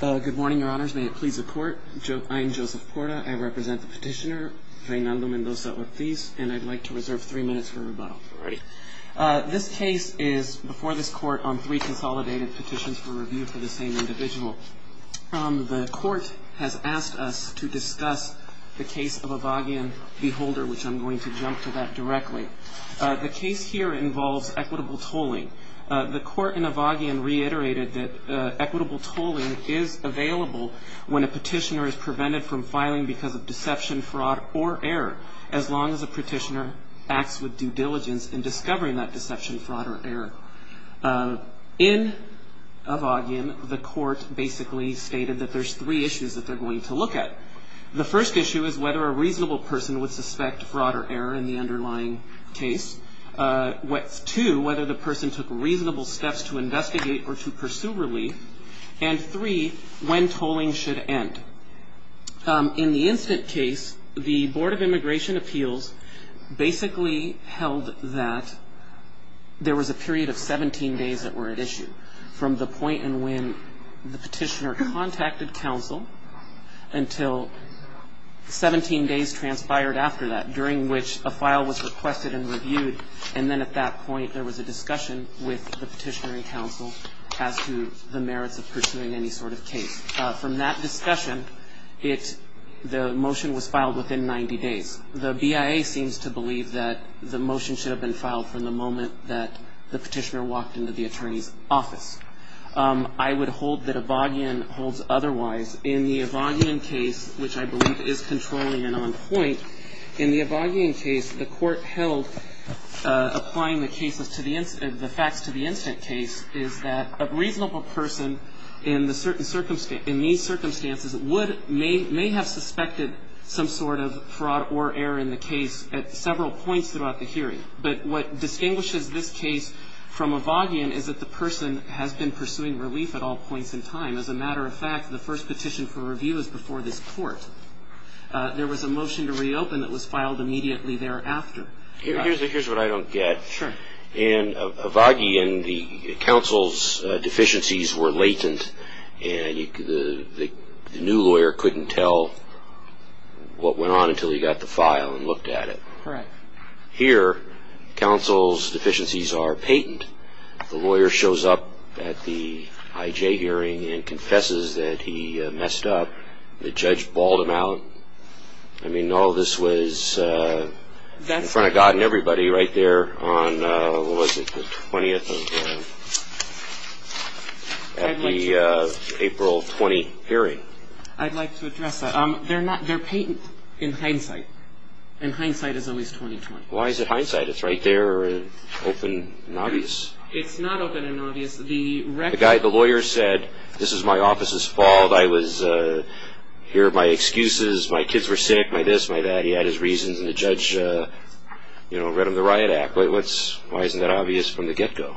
Good morning, Your Honors. May it please the Court. I am Joseph Porta. I represent the petitioner, Reynaldo Mendoza-Ortiz, and I'd like to reserve three minutes for rebuttal. This case is before this Court on three consolidated petitions for review for the same individual. The Court has asked us to discuss the case of Avagian v. Holder, which I'm going to jump to that directly. The case here involves equitable tolling. The Court in Avagian reiterated that equitable tolling is available when a petitioner is prevented from filing because of deception, fraud, or error, as long as the petitioner acts with due diligence in discovering that deception, fraud, or error. In Avagian, the Court basically stated that there's three issues that they're going to look at. The first issue is whether a reasonable person would suspect fraud or error in the underlying case. Two, whether the person took reasonable steps to investigate or to pursue relief. And three, when tolling should end. In the instant case, the Board of Immigration Appeals basically held that there was a period of 17 days that were at issue, from the point in when the petitioner contacted counsel until 17 days transpired after that, during which a file was requested and reviewed. And then at that point, there was a discussion with the petitioner and counsel as to the merits of pursuing any sort of case. From that discussion, the motion was filed within 90 days. The BIA seems to believe that the motion should have been filed from the moment that the petitioner walked into the attorney's office. I would hold that Avagian holds otherwise. In the Avagian case, which I believe is controlling and on point, in the Avagian case, the Court held applying the facts to the instant case is that a reasonable person in these circumstances may have suspected some sort of fraud or error in the case at several points throughout the hearing. But what distinguishes this case from Avagian is that the person has been pursuing relief at all points in time. As a matter of fact, the first petition for review is before this Court. There was a motion to reopen that was filed immediately thereafter. Here's what I don't get. Sure. In Avagian, the counsel's deficiencies were latent, and the new lawyer couldn't tell what went on until he got the file and looked at it. Correct. Here, counsel's deficiencies are patent. The lawyer shows up at the IJ hearing and confesses that he messed up. The judge balled him out. I mean, all this was in front of God and everybody right there on, what was it, the 20th of April, 20 hearing. I'd like to address that. They're patent in hindsight, and hindsight is always 20-20. Why is it hindsight? It's right there, open and obvious. It's not open and obvious. The lawyer said, this is my office's fault. I was here, my excuses, my kids were sick, my this, my that. He had his reasons, and the judge read him the Riot Act. Why isn't that obvious from the get-go?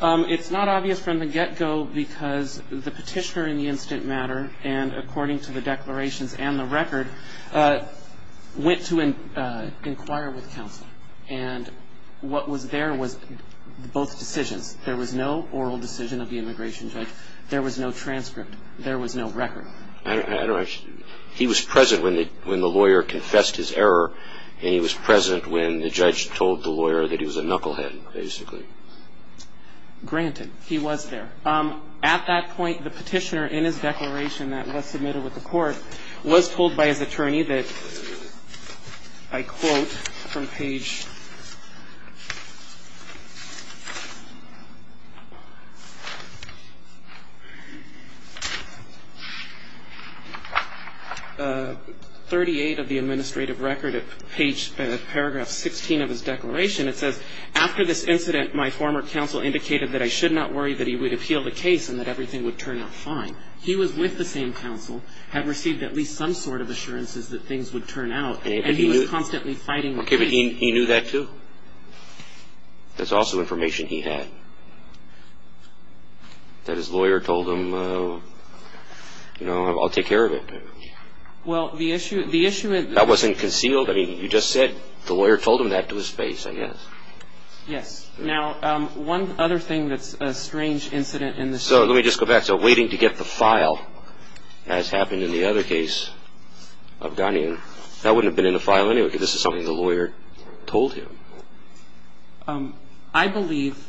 It's not obvious from the get-go because the petitioner in the instant matter, and according to the declarations and the record, went to inquire with counsel. And what was there was both decisions. There was no oral decision of the immigration judge. There was no transcript. There was no record. He was present when the lawyer confessed his error, and he was present when the judge told the lawyer that he was a knucklehead, basically. Granted, he was there. At that point, the petitioner, in his declaration that was submitted with the court, was told by his attorney that, I quote from page 38 of the administrative record at paragraph 16 of his declaration. It says, After this incident, my former counsel indicated that I should not worry that he would appeal the case and that everything would turn out fine. He was with the same counsel, had received at least some sort of assurances that things would turn out, and he was constantly fighting the case. Okay, but he knew that, too? That's also information he had? That his lawyer told him, you know, I'll take care of it? Well, the issue at the issue at the That wasn't concealed? I mean, you just said the lawyer told him that to his face, I guess. Yes. Now, one other thing that's a strange incident in this case. So let me just go back. So waiting to get the file, as happened in the other case of Ghanian, that wouldn't have been in the file anyway because this is something the lawyer told him. I believe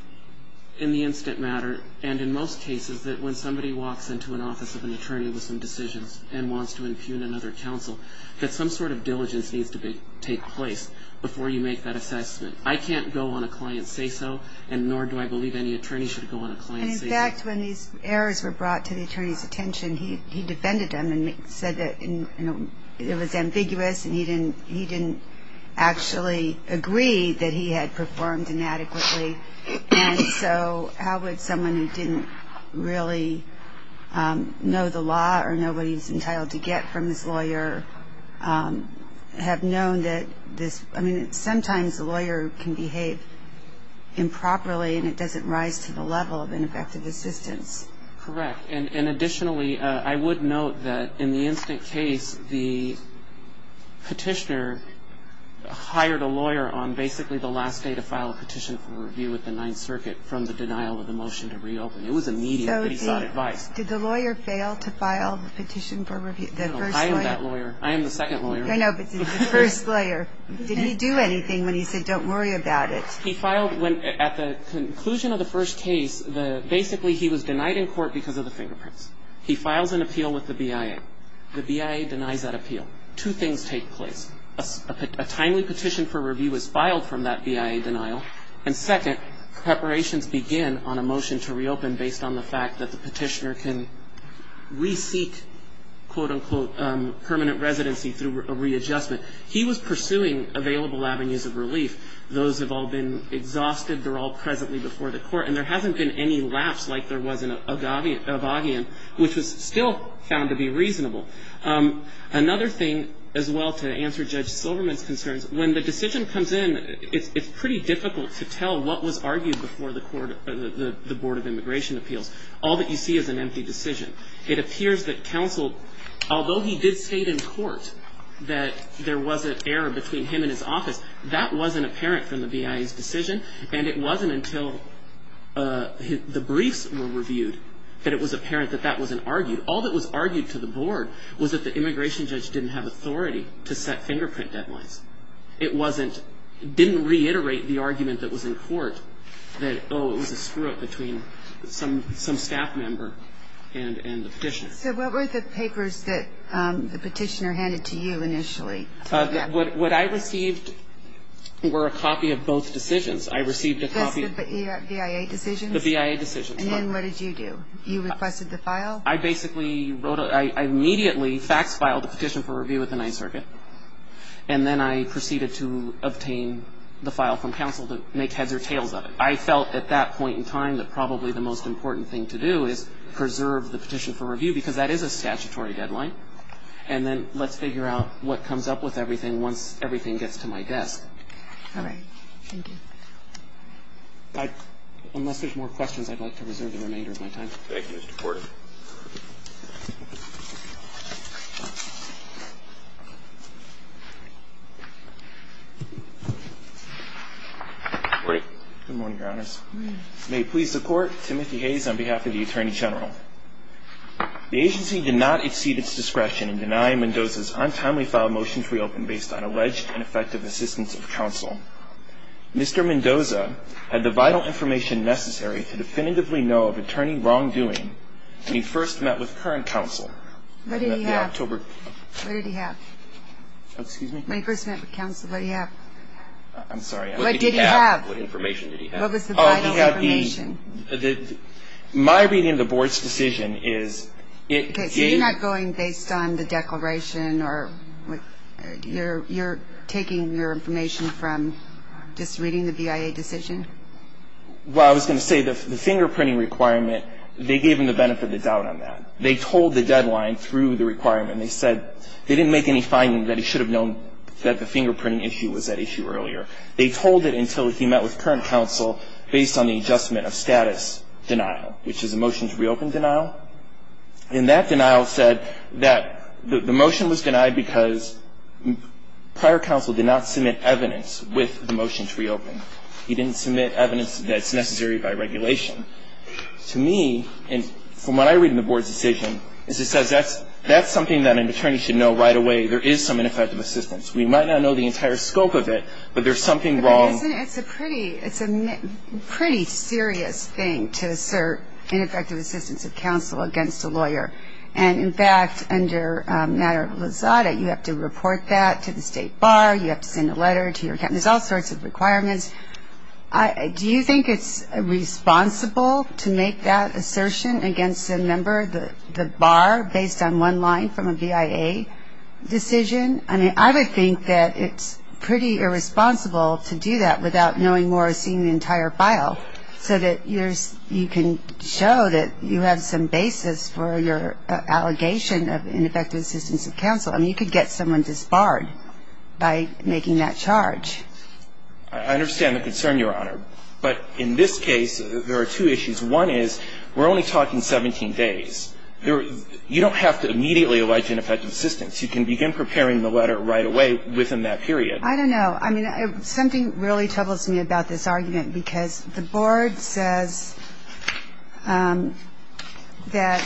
in the incident matter, and in most cases, that when somebody walks into an office of an attorney with some decisions and wants to impugn another counsel, that some sort of diligence needs to take place before you make that assessment. I can't go on a client and say so, and nor do I believe any attorney should go on a client and say so. And, in fact, when these errors were brought to the attorney's attention, he defended them and said that it was ambiguous and he didn't actually agree that he had performed inadequately. And so how would someone who didn't really know the law or know what he was entitled to get from his lawyer have known that this – I mean, sometimes a lawyer can behave improperly and it doesn't rise to the level of ineffective assistance. Correct. And additionally, I would note that in the incident case, the petitioner hired a lawyer on basically the last day to file a petition for review with the Ninth Circuit from the denial of the motion to reopen. It was immediate, but he got advice. So did the lawyer fail to file the petition for review? No, I am that lawyer. I am the second lawyer. I know, but the first lawyer. Did he do anything when he said don't worry about it? He filed – at the conclusion of the first case, basically he was denied in court because of the fingerprints. He files an appeal with the BIA. The BIA denies that appeal. Two things take place. A timely petition for review is filed from that BIA denial, and second, preparations begin on a motion to reopen based on the fact that the petitioner can reseek, quote, unquote, permanent residency through a readjustment. He was pursuing available avenues of relief. Those have all been exhausted. They're all presently before the court, and there hasn't been any lapse like there was in Avagian, which was still found to be reasonable. Another thing as well to answer Judge Silverman's concerns, when the decision comes in, it's pretty difficult to tell what was argued before the Board of Immigration Appeals. All that you see is an empty decision. It appears that counsel, although he did state in court that there was an error between him and his office, that wasn't apparent from the BIA's decision, and it wasn't until the briefs were reviewed that it was apparent that that wasn't argued. All that was argued to the Board was that the immigration judge didn't have authority to set fingerprint deadlines. It didn't reiterate the argument that was in court that, oh, it was a screw-up between some staff member and the petitioner. So what were the papers that the petitioner handed to you initially? What I received were a copy of both decisions. I received a copy. The BIA decisions? The BIA decisions. And then what did you do? You requested the file? I basically wrote a ñ I immediately fax-filed the petition for review at the Ninth Circuit, and then I proceeded to obtain the file from counsel to make heads or tails of it. I felt at that point in time that probably the most important thing to do is preserve the petition for review because that is a statutory deadline, and then let's figure out what comes up with everything once everything gets to my desk. All right. Thank you. Unless there's more questions, I'd like to reserve the remainder of my time. Thank you, Mr. Porter. Good morning, Your Honors. Good morning. May it please the Court, Timothy Hayes on behalf of the Attorney General. The agency did not exceed its discretion in denying Mendoza's untimely filed motion to reopen based on alleged ineffective assistance of counsel. Mr. Mendoza had the vital information necessary to definitively know of attorney wrongdoing when he first met with current counsel. What did he have? In the October ñ What did he have? Excuse me? When he first met with counsel, what did he have? I'm sorry. What did he have? What information did he have? What was the vital information? My reading of the Board's decision is it gave ñ Okay. So you're not going based on the declaration or what ñ you're taking your information from just reading the VIA decision? Well, I was going to say the fingerprinting requirement, they gave him the benefit of the doubt on that. They told the deadline through the requirement. They said they didn't make any findings that he should have known that the fingerprinting issue was at issue earlier. They told it until he met with current counsel based on the adjustment of status denial, which is a motion to reopen denial. And that denial said that the motion was denied because prior counsel did not submit evidence with the motion to reopen. He didn't submit evidence that's necessary by regulation. To me, and from what I read in the Board's decision, is it says that's something that an attorney should know right away there is some ineffective assistance. We might not know the entire scope of it, but there's something wrong. But isn't ñ it's a pretty ñ it's a pretty serious thing to assert ineffective assistance of counsel against a lawyer. And, in fact, under matter of Lizada, you have to report that to the state bar. You have to send a letter to your ñ there's all sorts of requirements. Do you think it's responsible to make that assertion against a member, the bar, based on one line from a VIA decision? I mean, I would think that it's pretty irresponsible to do that without knowing more or seeing the entire file so that you're ñ you can show that you have some basis for your allegation of ineffective assistance of counsel. I mean, you could get someone disbarred by making that charge. I understand the concern, Your Honor. But in this case, there are two issues. One is we're only talking 17 days. You don't have to immediately allege ineffective assistance. You can begin preparing the letter right away within that period. I don't know. I mean, something really troubles me about this argument because the board says that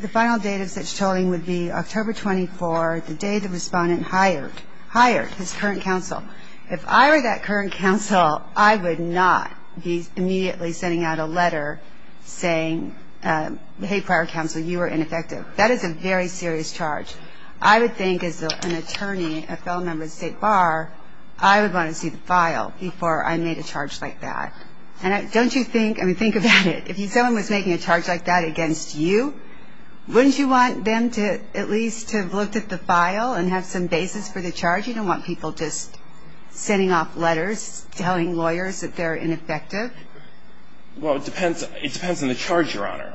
the final date of such tolling would be October 24, the day the respondent hired ñ hired his current counsel. If I were that current counsel, I would not be immediately sending out a letter saying, hey, prior counsel, you were ineffective. That is a very serious charge. I would think as an attorney, a fellow member of the State Bar, I would want to see the file before I made a charge like that. And don't you think ñ I mean, think about it. If someone was making a charge like that against you, wouldn't you want them to at least have looked at the file and have some basis for the charge? You don't want people just sending off letters telling lawyers that they're ineffective. Well, it depends on the charge, Your Honor.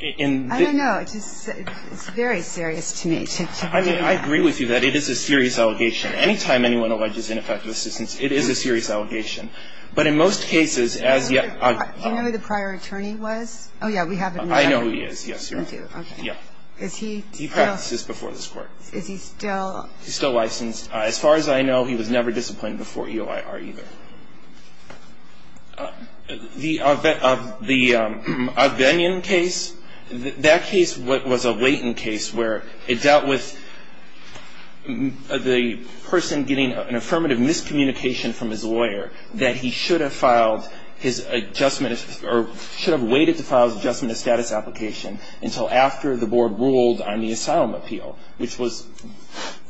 I don't know. It's very serious to me. I mean, I agree with you that it is a serious allegation. Anytime anyone alleges ineffective assistance, it is a serious allegation. But in most cases, as yet ñ Do you know who the prior attorney was? Oh, yeah. We have him now. I know who he is. Yes, Your Honor. You do. Okay. Yeah. Is he still ñ He practices before this Court. Is he still ñ He's still licensed. As far as I know, he was never disciplined before EOIR either. The Ogdenian case, that case was a latent case where it dealt with the person getting an affirmative miscommunication from his lawyer that he should have filed his adjustment or should have waited to file his adjustment of status application until after the board ruled on the asylum appeal, which was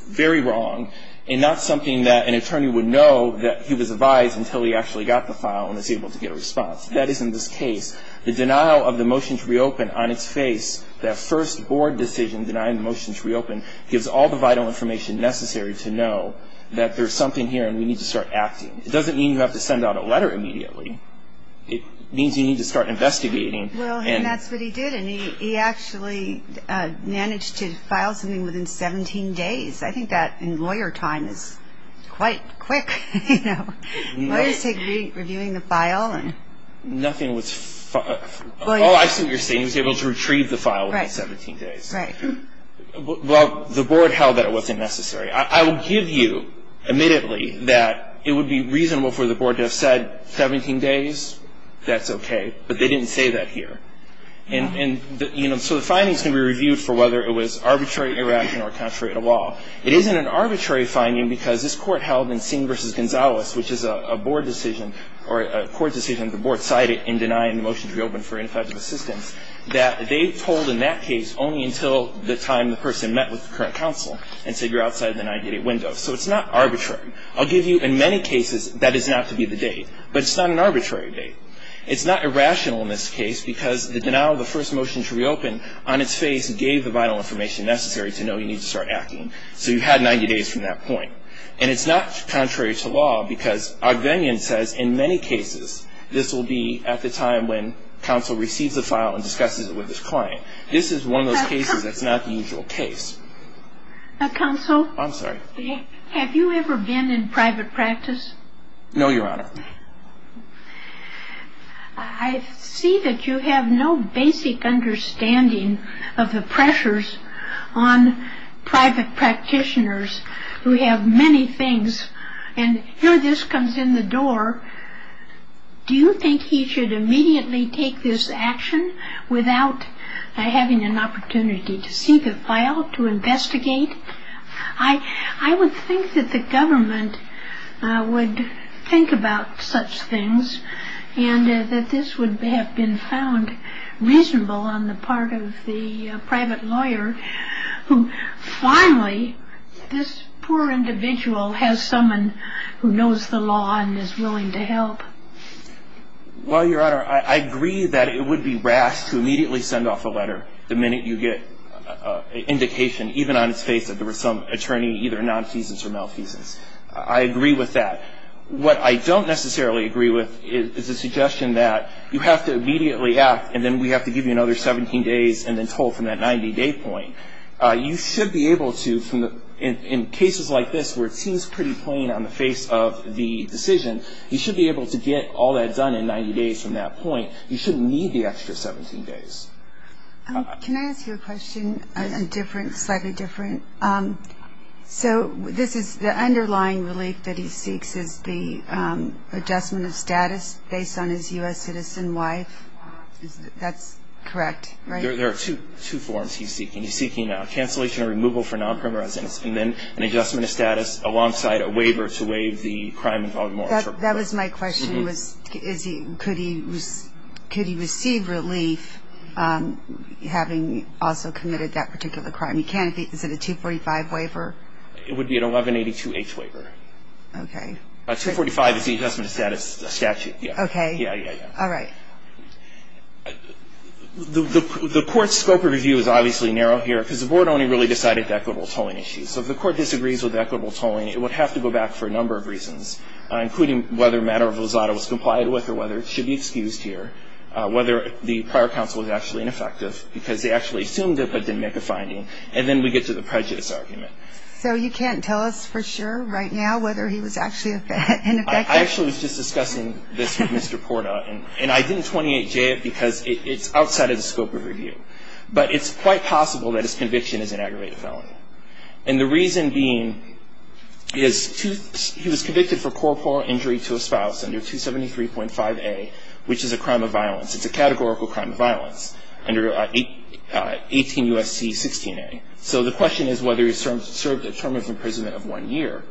very wrong and not something that an attorney would know that he was advised until he actually got the file and was able to get a response. That is in this case. The denial of the motion to reopen on its face, that first board decision denying the motion to reopen, gives all the vital information necessary to know that there's something here and we need to start acting. It doesn't mean you have to send out a letter immediately. It means you need to start investigating. Well, and that's what he did, and he actually managed to file something within 17 days. I think that in lawyer time is quite quick. You know, lawyers take reviewing the file and ñ Nothing was ñ Oh, I see what you're saying. He was able to retrieve the file within 17 days. Right. Well, the board held that it wasn't necessary. I will give you, admittedly, that it would be reasonable for the board to have said, 17 days, that's okay, but they didn't say that here. And, you know, so the findings can be reviewed for whether it was arbitrary, irrational, or contrary to law. It isn't an arbitrary finding because this court held in Singh v. Gonzalez, which is a board decision or a court decision the board cited in denying the motion to reopen for ineffective assistance, that they told in that case only until the time the person met with the current counsel and said, you're outside the 90-day window. So it's not arbitrary. I'll give you, in many cases, that is not to be the date, but it's not an arbitrary date. It's not irrational in this case because the denial of the first motion to reopen, on its face, gave the vital information necessary to know you need to start acting. So you had 90 days from that point. And it's not contrary to law because Ogdenian says, in many cases, this will be at the time when counsel receives the file and discusses it with his client. This is one of those cases that's not the usual case. Counsel? I'm sorry. Have you ever been in private practice? No, Your Honor. I see that you have no basic understanding of the pressures on private practitioners who have many things. And here this comes in the door. Do you think he should immediately take this action without having an opportunity to see the file, to investigate? I would think that the government would think about such things and that this would have been found reasonable on the part of the private lawyer who finally this poor individual has someone who knows the law and is willing to help. Well, Your Honor, I agree that it would be rash to immediately send off a letter the minute you get an indication, even on its face, that there was some attorney either non-feasance or malfeasance. I agree with that. What I don't necessarily agree with is the suggestion that you have to immediately act and then we have to give you another 17 days and then told from that 90-day point. You should be able to, in cases like this where it seems pretty plain on the face of the decision, you should be able to get all that done in 90 days from that point. You shouldn't need the extra 17 days. Can I ask you a question slightly different? So the underlying relief that he seeks is the adjustment of status based on his U.S. citizen wife. That's correct, right? There are two forms he's seeking. He's seeking a cancellation or removal for non-primary residence and then an adjustment of status alongside a waiver to waive the crime-involved moratorium. Well, that was my question was could he receive relief having also committed that particular crime? Is it a 245 waiver? It would be an 1182H waiver. Okay. 245 is the adjustment of status statute. Okay. Yeah, yeah, yeah. All right. The court's scope of review is obviously narrow here because the board only really decided the equitable tolling issue. So if the court disagrees with equitable tolling, it would have to go back for a number of reasons, including whether a matter of Rosado was complied with or whether it should be excused here, whether the prior counsel was actually ineffective because they actually assumed it but didn't make a finding. And then we get to the prejudice argument. So you can't tell us for sure right now whether he was actually ineffective? I actually was just discussing this with Mr. Porta, and I didn't 28J it because it's outside of the scope of review. But it's quite possible that his conviction is an aggravated felony. And the reason being is he was convicted for corporal injury to a spouse under 273.5A, which is a crime of violence. It's a categorical crime of violence under 18 U.S.C. 16A. So the question is whether he served a term of imprisonment of one year.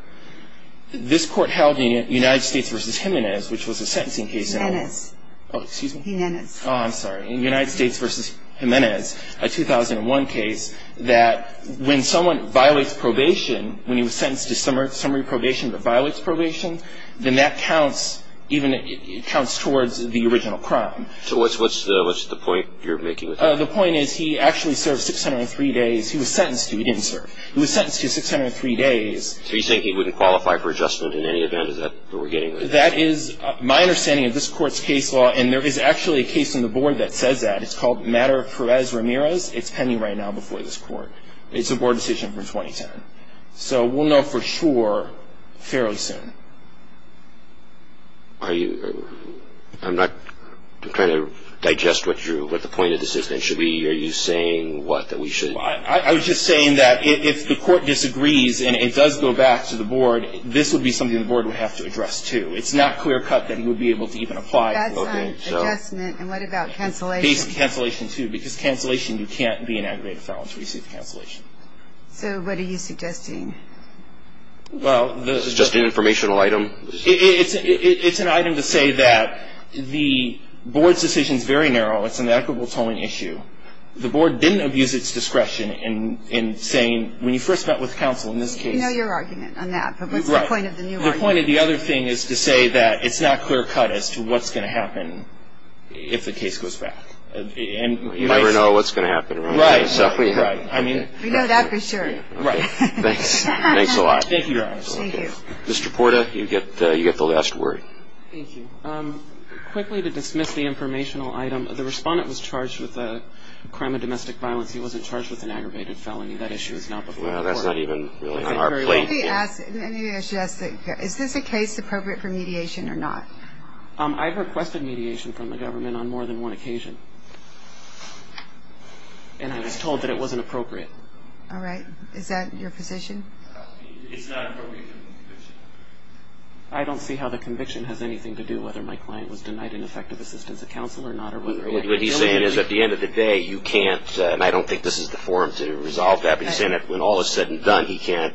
This court held in United States v. Jimenez, which was a sentencing case. Jimenez. Oh, excuse me? Jimenez. Oh, I'm sorry. In United States v. Jimenez, a 2001 case, that when someone violates probation, when he was sentenced to summary probation but violates probation, then that counts towards the original crime. So what's the point you're making with that? The point is he actually served 603 days. He was sentenced to. He didn't serve. He was sentenced to 603 days. So you're saying he wouldn't qualify for adjustment in any event? Is that what we're getting? That is my understanding of this court's case law, and there is actually a case on the board that says that. It's called Matter of Perez-Ramirez. It's pending right now before this court. It's a board decision from 2010. So we'll know for sure fairly soon. Are you – I'm not trying to digest what you – what the point of this is, then. Should we – are you saying what, that we should – I was just saying that if the court disagrees and it does go back to the board, this would be something the board would have to address, too. It's not clear-cut that he would be able to even apply. That's not adjustment. And what about cancellation? Basically cancellation, too, because cancellation, you can't be an aggravated felon to receive cancellation. So what are you suggesting? Well, the – Suggesting an informational item. It's an item to say that the board's decision is very narrow. It's an equitable tolling issue. The board didn't abuse its discretion in saying, when you first met with counsel in this case – We know your argument on that, but what's the point of the new argument? The point of the other thing is to say that it's not clear-cut as to what's going to happen if the case goes back. You never know what's going to happen. Right. I mean – We know that for sure. Right. Thanks. Thanks a lot. Thank you, Your Honor. Thank you. Mr. Porta, you get the last word. Thank you. Quickly, to dismiss the informational item, the respondent was charged with a crime of domestic violence. He wasn't charged with an aggravated felony. That issue is not before the court. No, that's not even really on our plate. Let me ask – maybe I should ask – is this a case appropriate for mediation or not? I've requested mediation from the government on more than one occasion, and I was told that it wasn't appropriate. All right. Is that your position? It's not appropriate for the conviction. I don't see how the conviction has anything to do whether my client was denied an effective assistance of counsel or not. What he's saying is, at the end of the day, you can't – and I don't think this is the forum to resolve that. He's saying that when all is said and done, he can't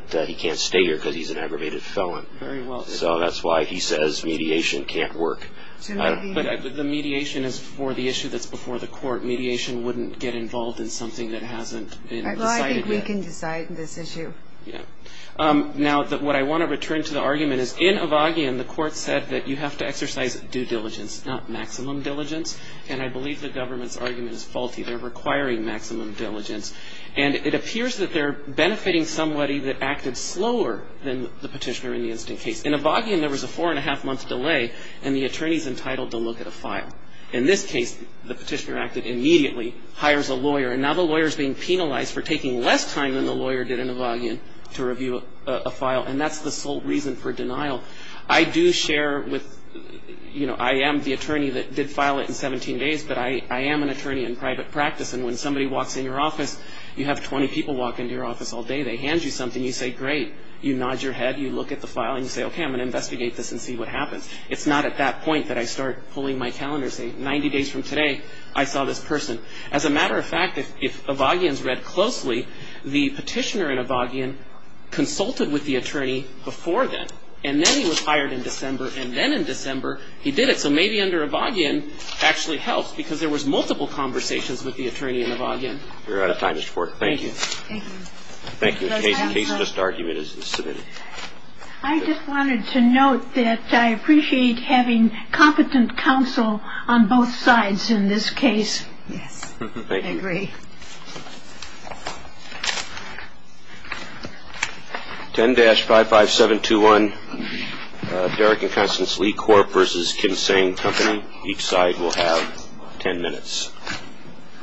stay here because he's an aggravated felon. Very well. So that's why he says mediation can't work. But the mediation is for the issue that's before the court. Mediation wouldn't get involved in something that hasn't been decided yet. I think we can decide this issue. Yeah. Now, what I want to return to the argument is, in Avagian, the court said that you have to exercise due diligence, not maximum diligence, and I believe the government's argument is faulty. They're requiring maximum diligence. And it appears that they're benefiting somebody that acted slower than the petitioner in the incident case. In Avagian, there was a four-and-a-half-month delay, and the attorney's entitled to look at a file. In this case, the petitioner acted immediately, hires a lawyer, and now the lawyer's being penalized for taking less time than the lawyer did in Avagian to review a file, and that's the sole reason for denial. I do share with – you know, I am the attorney that did file it in 17 days, but I am an attorney in private practice, and when somebody walks in your office, you have 20 people walk into your office all day, they hand you something, you say, great. You nod your head, you look at the file, and you say, okay, I'm going to investigate this and see what happens. It's not at that point that I start pulling my calendar and say, 90 days from today, I saw this person. As a matter of fact, if Avagian's read closely, the petitioner in Avagian consulted with the attorney before then, and then he was hired in December, and then in December, he did it. So maybe under Avagian, it actually helped, because there was multiple conversations with the attorney in Avagian. We're out of time, Mr. Porter. Thank you. Thank you. Thank you. The case just argument is submitted. I just wanted to note that I appreciate having competent counsel on both sides in this case. Yes. Thank you. I agree. Thank you. 10-55721, Derek and Constance Lee Corp. versus Kinsane Company. Each side will have ten minutes.